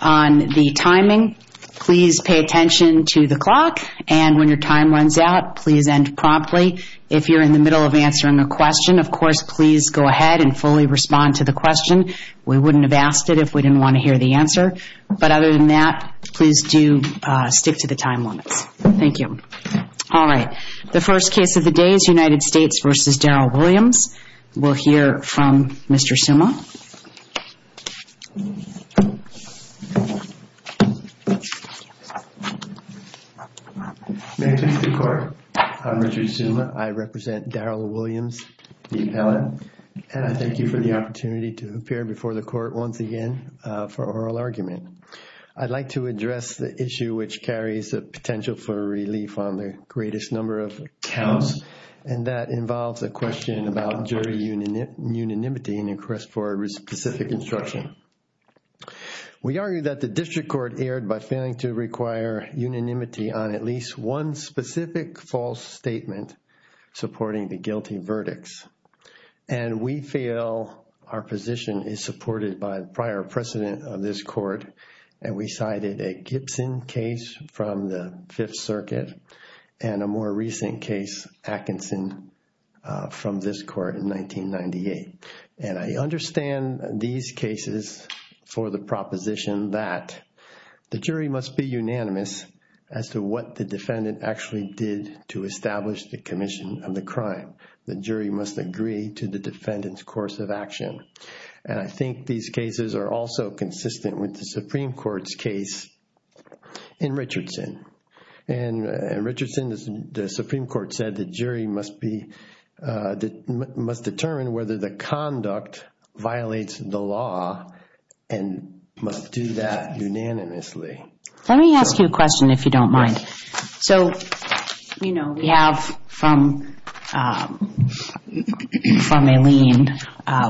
on the timing. Please pay attention to the clock, and when your time runs out, please end promptly. If you're in the middle of answering a question, of course, please go ahead and fully respond to the question. We wouldn't have asked it if we didn't want to hear the answer. But other than that, please do stick to the time limits. Thank you. All right. The first case of the day is United States v. Darryl Williams. We'll hear from Mr. Summa. May it please the Court. I'm Richard Summa. I represent Darryl Williams, the appellant, and I thank you for the opportunity to appear before the Court once again for oral argument. I'd like to address the issue which carries a potential for relief on the greatest number of counts, and that involves a question about unanimity in request for specific instruction. We argue that the District Court erred by failing to require unanimity on at least one specific false statement supporting the guilty verdicts. And we feel our position is supported by prior precedent of this Court, and we cited a Gibson case from the Fifth Circuit and a more recent case, Atkinson, from this Court in 1998. And I understand these cases for the proposition that the jury must be unanimous as to what the defendant actually did to establish the commission of the crime. The jury must agree to the defendant's course of action. And I think these cases are also consistent with the Supreme Court's case in Richardson. In Richardson, the Supreme Court said the jury must determine whether the conduct violates the law and must do that unanimously. Let me ask you a question, if you don't mind. So, you know, we have from Aileen,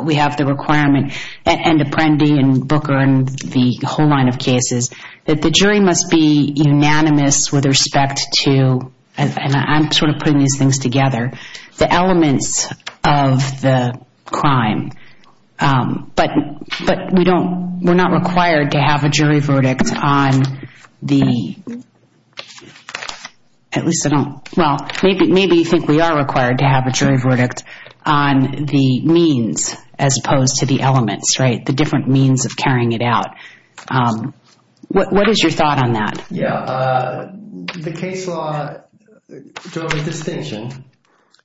we have the requirement, and Apprendi and Booker and the whole line of cases, that the jury must be unanimous with respect to, and I'm sort of putting these things together, the elements of the crime. But we don't, we're not required to have a jury verdict on the, at least I don't, well, maybe you think we are required to have a jury verdict on the means, as opposed to the elements, right? The different means of carrying it out. What is your thought on that? Yeah, the case law drove a distinction,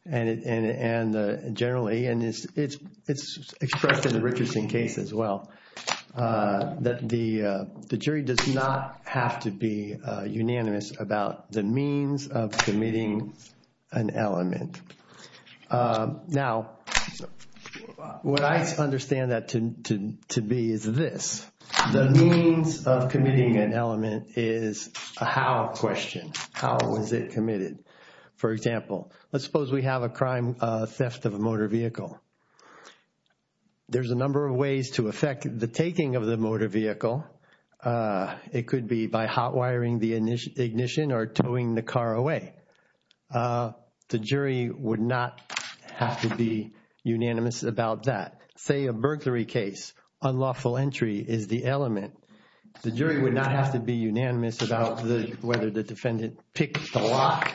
and generally, and it's expressed in the Richardson case as well, that the jury does not have to be unanimous about the means of committing an element. Now, what I understand that to be is this. The means of committing an element is a how question. How was it committed? For example, let's suppose we have a crime, a theft of a motor vehicle. There's a number of ways to affect the taking of the motor vehicle. It could be by hot wiring the ignition or towing the car away. The jury would not have to be unanimous about that. Say, a burglary case, unlawful entry is the element. The jury would not have to be unanimous about whether the defendant picked the lock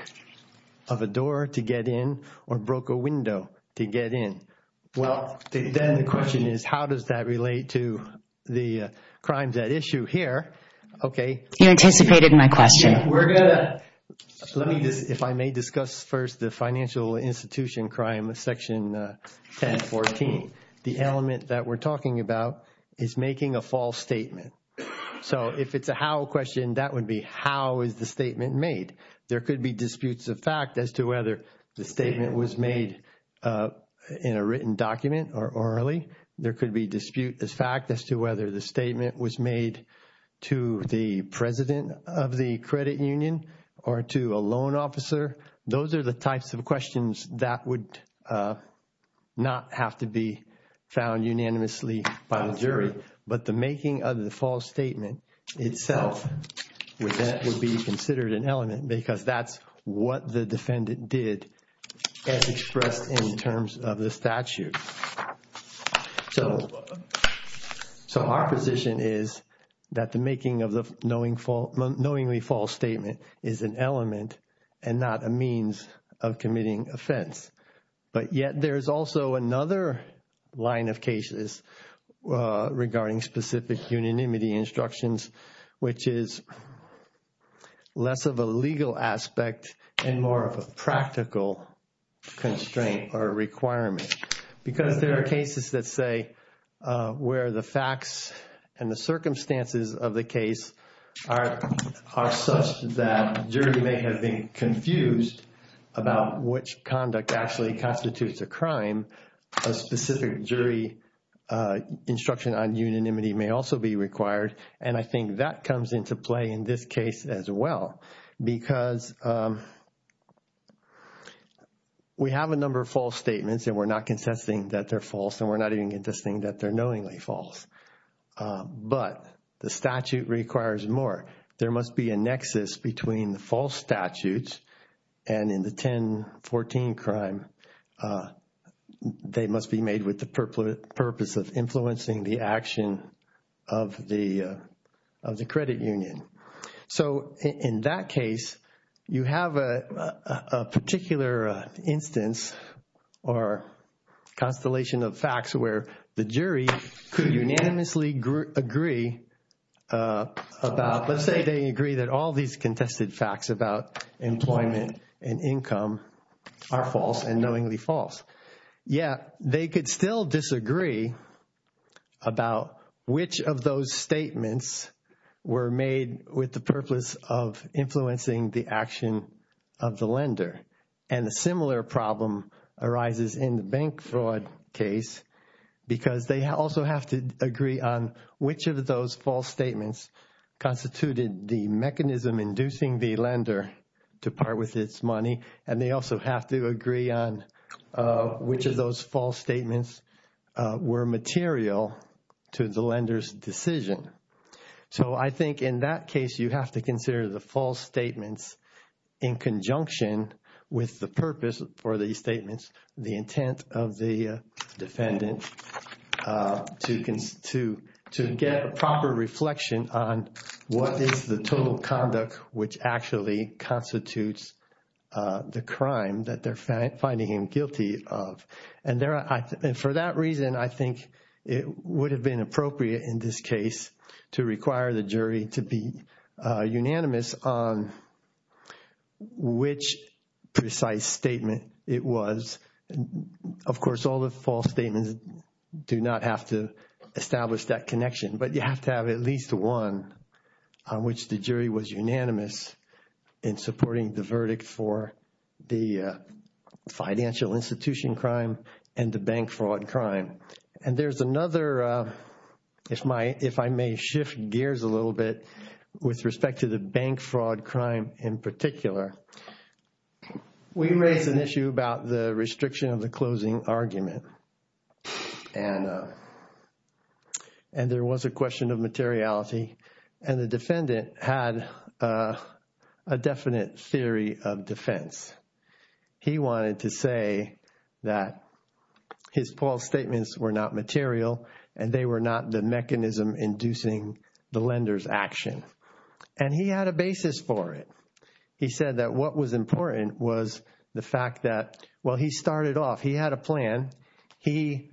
of a door to get in or broke a window to get in. Well, then the question is, how does that relate to the crime at issue here? Okay. You anticipated my question. We're going to, let me just, if I may discuss first the financial institution crime, Section 1014. The element that we're talking about is making a false statement. So if it's a how question, that would be how is the statement made? There could be disputes of fact as to whether the statement was made in a written document or orally. There could be dispute of fact as to whether the statement was made to the president of the credit union or to a loan officer. Those are the types of questions that would not have to be found unanimously by the jury. But the making of the false statement itself would be considered an element because that's what the defendant did as expressed in terms of the statute. So our position is that the making of the knowingly false statement is an element and not a means of committing offense. But yet there is also another line of cases regarding specific unanimity instructions, which is less of a legal aspect and more of a requirement. Because there are cases that say where the facts and the circumstances of the case are such that jury may have been confused about which conduct actually constitutes a crime, a specific jury instruction on unanimity may also be required. And I think that comes into play in this case as well. Because we have a number of false statements and we're not consisting that they're false and we're not even consisting that they're knowingly false. But the statute requires more. There must be a nexus between the false statutes and in the 1014 So in that case, you have a particular instance or constellation of facts where the jury could unanimously agree about, let's say they agree that all these contested facts about employment and income are false and knowingly false. Yet they could still disagree about which of those statements were made with the purpose of influencing the action of the lender. And a similar problem arises in the bank fraud case because they also have to agree on which of those false statements constituted the mechanism inducing the lender to part with its money. And they also have to agree on which of those false statements were material to the lender's decision. So I think in that case, you have to consider the false statements in conjunction with the purpose for these statements, the intent of the defendant to get a proper reflection on what is the total conduct which actually constitutes the crime that they're finding him guilty of. And for that reason, I think it would have been appropriate in this case to require the jury to be unanimous on which precise statement it was. Of course, all the false statements do not have to establish that connection, but you have to have at least one on which the jury was unanimous in supporting the verdict for the financial institution crime and the bank fraud crime. And there's another, if I may shift gears a little bit with respect to the bank fraud crime in particular. We raised an issue about the restriction of the closing argument. And there was a question of materiality. And the defendant had a definite theory of defense. He wanted to say that his false statements were not material and they were not the mechanism inducing the lender's for it. He said that what was important was the fact that, well, he started off, he had a plan. He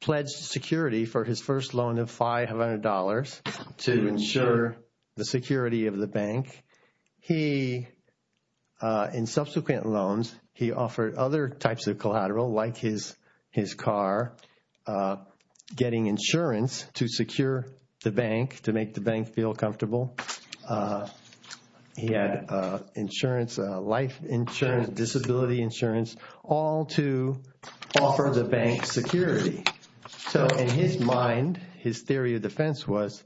pledged security for his first loan of $500 to ensure the security of the bank. He, in subsequent loans, he offered other types of collateral like his car, getting insurance to secure the bank, to make the bank feel comfortable. He had insurance, life insurance, disability insurance, all to offer the bank security. So in his mind, his theory of defense was,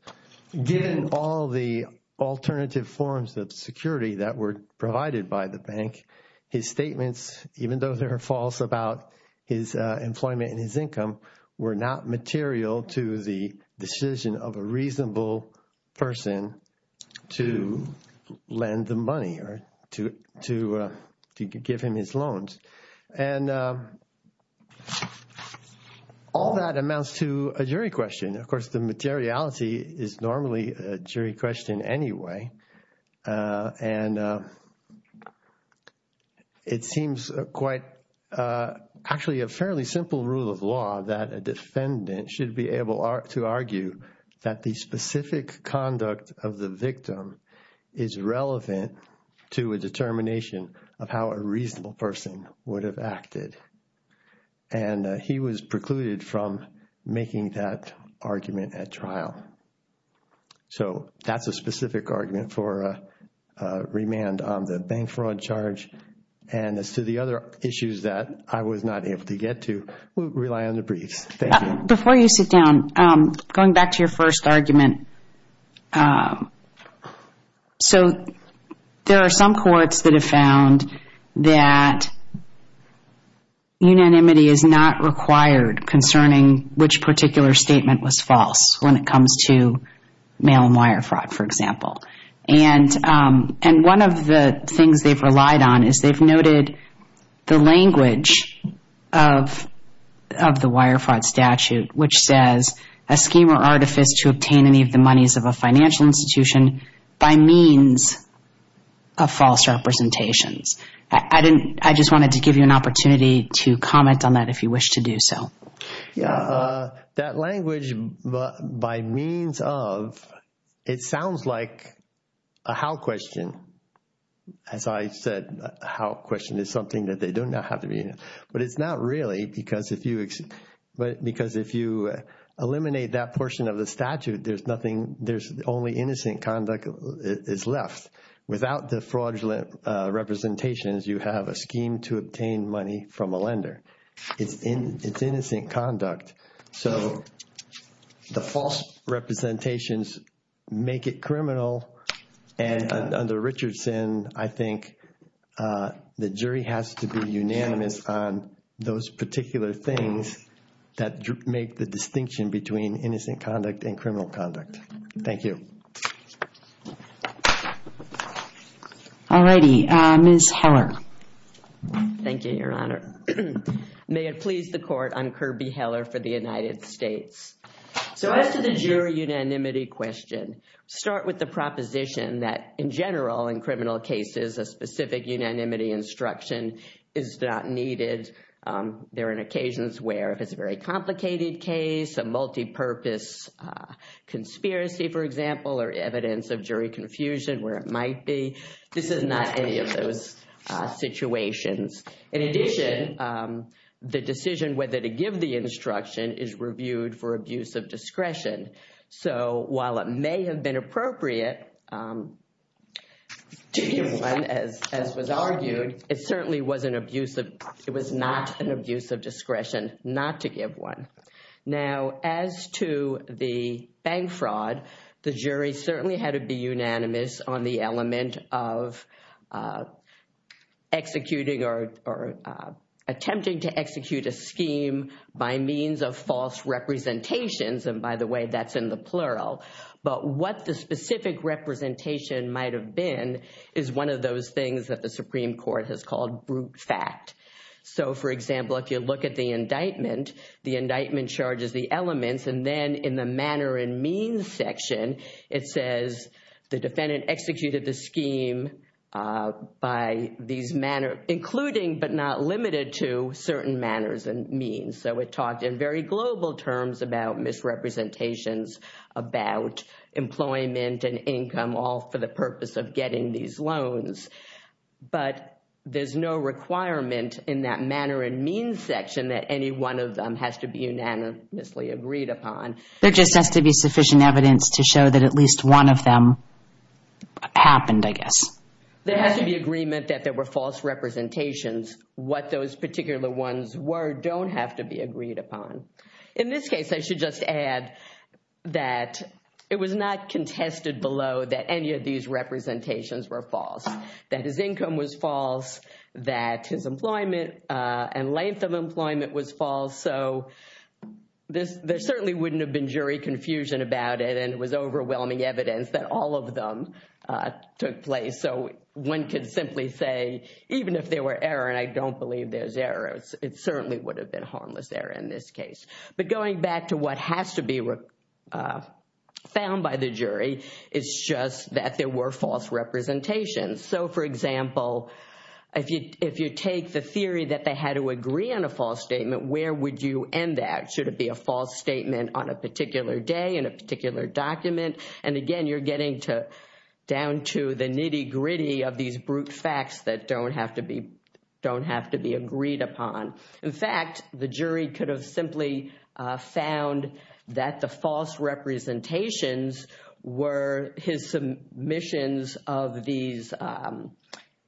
given all the alternative forms of security that were provided by the bank, his statements, even though they were false about his employment and his the money or to give him his loans. And all that amounts to a jury question. Of course, the materiality is normally a jury question anyway. And it seems quite actually a fairly simple rule of law that a defendant should be able to argue that the specific conduct of the victim is relevant to a determination of how a reasonable person would have acted. And he was precluded from making that argument at trial. So that's a specific argument for remand on the bank fraud charge. And as to the other issues that I was not able to get to, we'll rely on the briefs. Thank you. Before you sit down, going back to your first argument, so there are some courts that have found that unanimity is not required concerning which particular statement was false when it comes to mail and wire fraud, for example. And one of the things they've relied on is they've noted the language of the wire fraud statute, which says a scheme or artifice to obtain any of the monies of a financial institution by means of false representations. I just wanted to give you an opportunity to comment on that if you wish to do so. Yeah, that language, by means of, it sounds like a how question. As I said, how question is something that they do not have to be, but it's not really because if you, but because if you eliminate that portion of the is left without the fraudulent representations, you have a scheme to obtain money from a lender. It's innocent conduct. So the false representations make it criminal. And under Richardson, I think the jury has to be unanimous on those particular things that make the distinction between innocent conduct and criminal conduct. Thank you. All righty. Ms. Heller. Thank you, Your Honor. May it please the court, I'm Kirby Heller for the United States. So as to the jury unanimity question, start with the proposition that in general, in criminal cases, a specific unanimity instruction is not needed. There are occasions where if it's a very complicated case, a multipurpose conspiracy, for example, or evidence of jury confusion where it might be, this is not any of those situations. In addition, the decision whether to give the instruction is reviewed for abuse of discretion. So while it may have been appropriate to give one, as was argued, it certainly was an abuse of, it was not an abuse of discretion not to give one. Now, as to the bank fraud, the jury certainly had to be unanimous on the element of executing or attempting to execute a plural. But what the specific representation might have been is one of those things that the Supreme Court has called brute fact. So for example, if you look at the indictment, the indictment charges the elements and then in the manner and means section, it says the defendant executed the scheme by these manner, including but not limited to certain manners and means. So it talked in very global terms about misrepresentations about employment and income all for the purpose of getting these loans. But there's no requirement in that manner and means section that any one of them has to be unanimously agreed upon. There just has to be sufficient evidence to show that at least one of them happened, I guess. There has to be agreement that there were false representations. What those particular ones were don't have to be agreed upon. In this case, I should just add that it was not contested below that any of these representations were false, that his income was false, that his employment and length of employment was false. So there certainly wouldn't have been jury confusion about it. And it was overwhelming evidence that all of them took place. So one could simply say, even if there were error, and I don't believe there's error, it certainly would have been harmless error in this case. But going back to what has to be found by the jury, it's just that there were false representations. So for example, if you take the theory that they had to agree on a false statement, where would you end that? Should it be a false statement on a particular day, in a particular document? And again, you're getting down to the nitty-gritty of these brute facts that don't have to be agreed upon. In fact, the jury could have simply found that the false representations were his submissions of these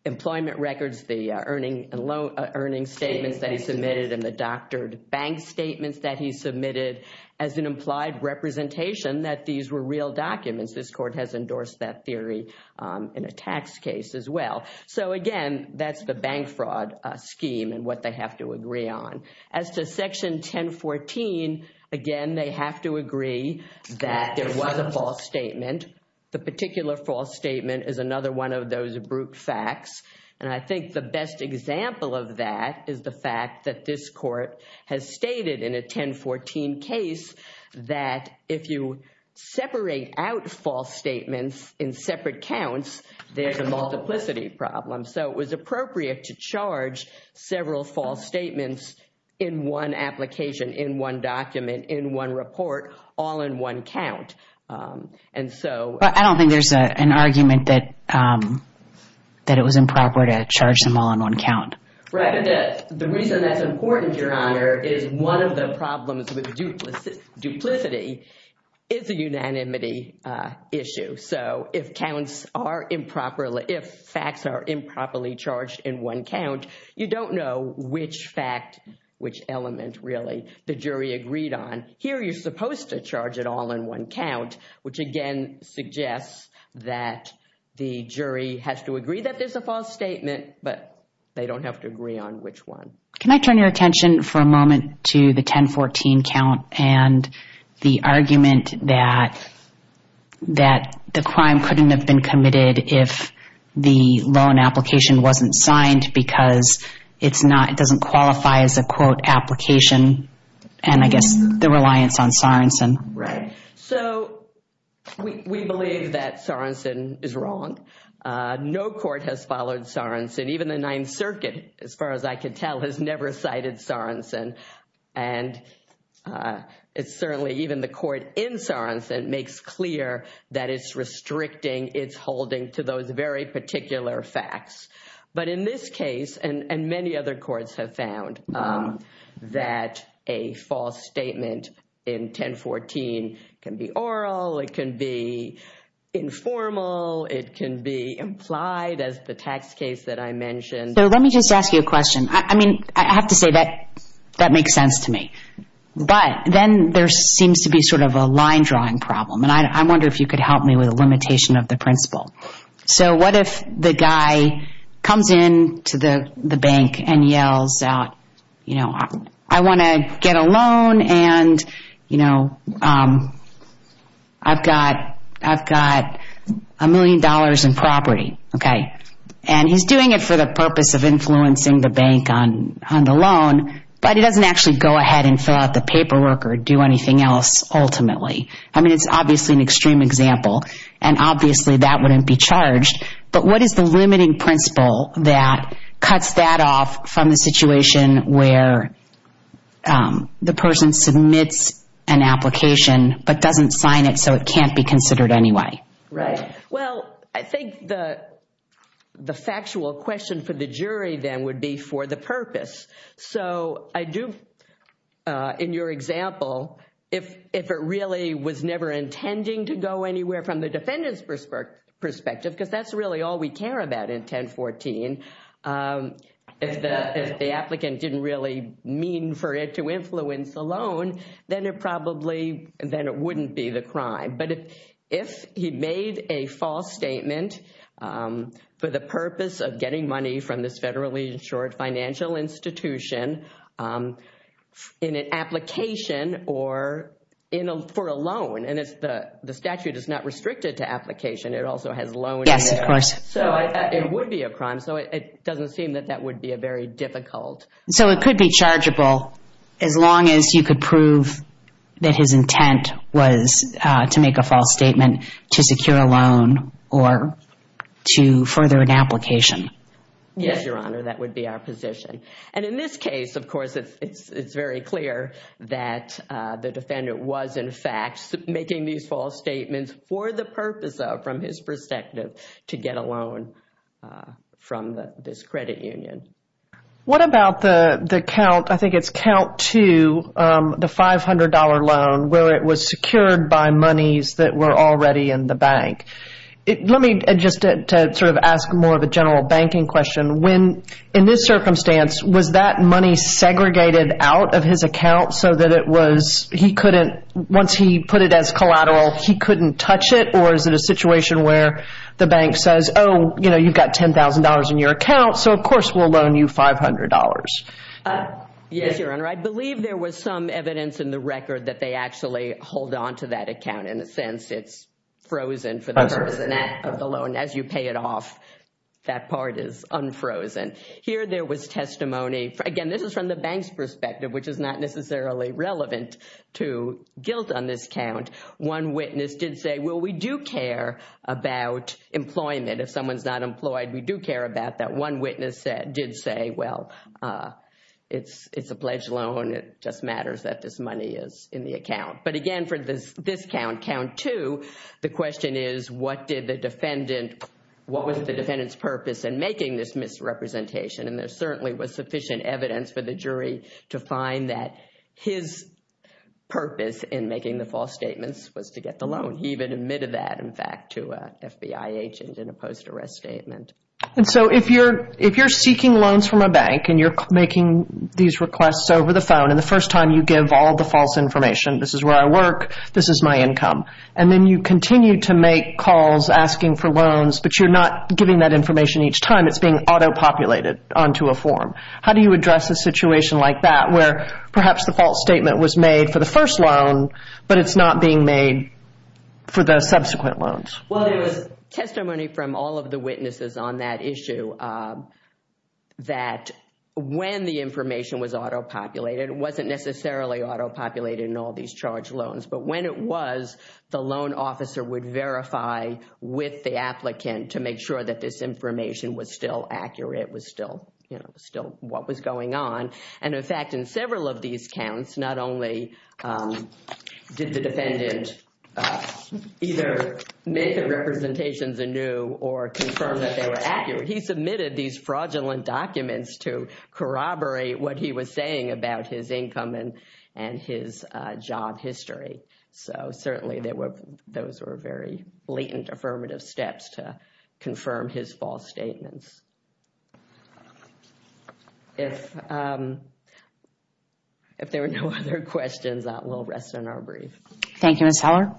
employment records, the earning statements that he submitted, and the doctored bank statements that he submitted as an implied representation that these were real documents. This court has endorsed that theory in a tax case as well. So again, that's the bank fraud scheme and what they have to agree on. As to Section 1014, again, they have to agree that there was a false statement. The particular false statement is another one of those brute facts. And I think the best example of that is the fact that this court has stated in a 1014 case that if you separate out false statements in separate counts, there's a multiplicity problem. So it was appropriate to charge several false statements in one application, in one document, in one report, all in one count. And so... But I don't think there's an argument that it was improper to charge them all in one count. Right. The reason that's important, Your Honor, is one of the problems with duplicity is a unanimity issue. So if facts are improperly charged in one count, you don't know which fact, which element, really, the jury agreed on. Here, you're supposed to charge it all in one count, which again suggests that the jury has to agree that there's a false statement, but they don't have to agree on which one. Can I turn your attention for a moment to the 1014 count and the argument that the crime couldn't have been committed if the loan application wasn't signed because it doesn't qualify as a, quote, application, and I guess the reliance on Sorenson. Right. So we believe that Sorenson is wrong. No court has followed Sorenson, even the Ninth Circuit, as far as I could tell, has never cited Sorenson. And it's certainly even the court in Sorenson makes clear that it's restricting its holding to those very particular facts. But in this case, and many other courts have found, that a false statement in 1014 can be oral, it can be informal, it can be implied as the tax case that I mentioned. So let me just ask you a question. I mean, I have to say that that makes sense to me. But then there seems to be sort of a line drawing problem. And I wonder if you could help me with a limitation of the principle. So what if the guy comes in to the bank and yells out, you know, I want to get a loan and, you know, I've got a million dollars in property. Okay. And he's doing it for the purpose of influencing the bank on the loan, but he doesn't actually go ahead and fill out the paperwork or do anything else ultimately. I mean, it's obviously an extreme example. And obviously that wouldn't be charged. But what is the limiting principle that cuts that off from the situation where the person submits an application but doesn't sign it so it can't be considered anyway? Right. Well, I think the factual question for the jury then would be for the purpose. So I do, in your example, if it really was never intending to go anywhere from the defendant's perspective, because that's really all we care about in 1014, if the applicant didn't really mean for it to influence the loan, then it probably, then it wouldn't be the crime. But if he made a false statement for the purpose of getting money from this federally insured financial institution in an application or for a loan, and the statute is not restricted to application, it also has loans. So it would be a crime. So it doesn't seem that that would be a very difficult- So it could be chargeable as long as you could prove that his intent was to make a false statement to secure a loan or to further an application. Yes, Your Honor, that would be our position. And in this case, of course, it's very clear that the defendant was, in fact, making these false statements for the purpose of, from his perspective, to get a loan from this credit union. What about the count? I think it's count two, the $500 loan, where it was secured by monies that were already in the bank. Let me, just to sort of ask more of a general banking question, in this circumstance, was that money segregated out of his account so that it was, he couldn't, once he put it as collateral, he couldn't touch it? Or is it a situation where the bank says, oh, you know, you've got $10,000 in your account, so of course we'll loan you $500. Yes, Your Honor, I believe there was some evidence in the record that they actually hold on to that account. In a sense, it's frozen for the purpose of the loan. As you pay it off, that part is unfrozen. Here, there was testimony. Again, this is from the bank's perspective, which is not necessarily relevant to guilt on this count. One witness did say, well, we do care about employment. If someone's not employed, we do care about that. One witness did say, well, it's a pledged loan. It just matters that this money is in the account. But again, for this count, count two, the question is, what did the defendant, what was the defendant's purpose in making this misrepresentation? There certainly was sufficient evidence for the jury to find that his purpose in making the false statements was to get the loan. He even admitted that, in fact, to an FBI agent in a post-arrest statement. If you're seeking loans from a bank and you're making these requests over the phone, and the first time you give all the false information, this is where I work, this is my income, and then you continue to make calls asking for loans, but you're not giving that information each time. It's being auto-populated onto a form. How do you address a situation like that where perhaps the false statement was made for the first loan, but it's not being made for the subsequent loans? Well, there was testimony from all of the witnesses on that issue that when the information was auto-populated, it wasn't necessarily auto-populated in all these charged loans, but when it was, the loan officer would verify with the applicant to make sure that this information was still accurate, was still, you know, still what was going on. And in fact, in several of these counts, not only did the defendant either make the representations anew or confirm that they were accurate, he submitted these fraudulent documents to corroborate what he was saying about his income and his job history. So certainly, those were very blatant affirmative steps to confirm his false statements. If there are no other questions, we'll rest on our brief. Thank you, Ms. Heller.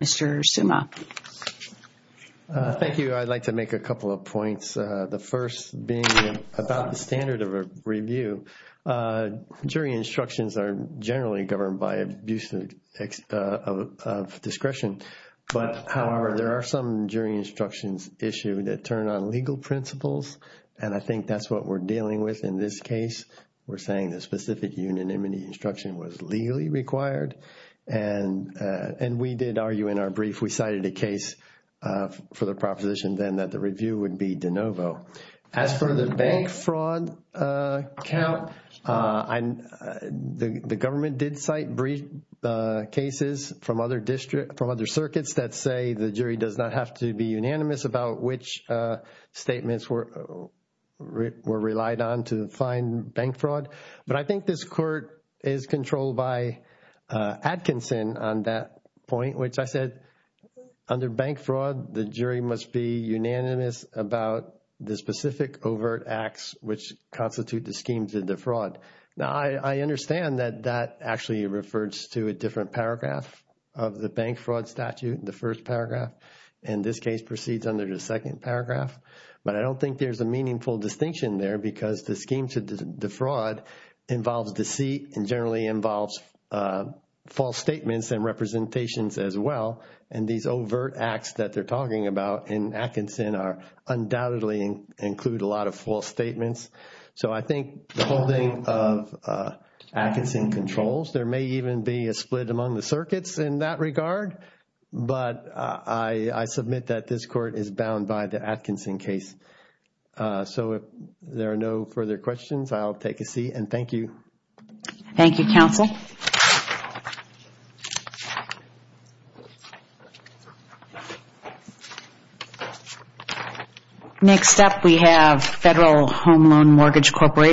Mr. Suma. Thank you. I'd like to make a couple of points. The first being about the standard of a review. Jury instructions are generally governed by abuse of discretion, but however, there are some jury instructions issued that turn on legal principles and I think that's what we're dealing with in this case. We're saying the specific unanimity instruction was legally required and we did argue in our brief, we cited a case for the proposition then that the review would be de novo. As for the bank fraud count, the government did cite brief cases from other district, from other circuits that say the jury does not have to be unanimous about which statements were relied on to find bank fraud. But I think this court is controlled by Atkinson on that point, which I said, under bank fraud, the jury must be unanimous about the specific overt acts which constitute the scheme to defraud. Now, I understand that that actually refers to a different paragraph of the bank fraud statute, the first paragraph, and this case proceeds under the second paragraph, but I don't think there's a meaningful distinction there because the scheme to defraud involves deceit and generally involves false statements and representations as well and these overt acts that they're talking about in Atkinson undoubtedly include a lot of false statements. So I think the holding of Atkinson controls, there may even be a split among the case. So if there are no further questions, I'll take a seat and thank you. Thank you, counsel. Next up, we have Federal Home Loan Mortgage Corporation.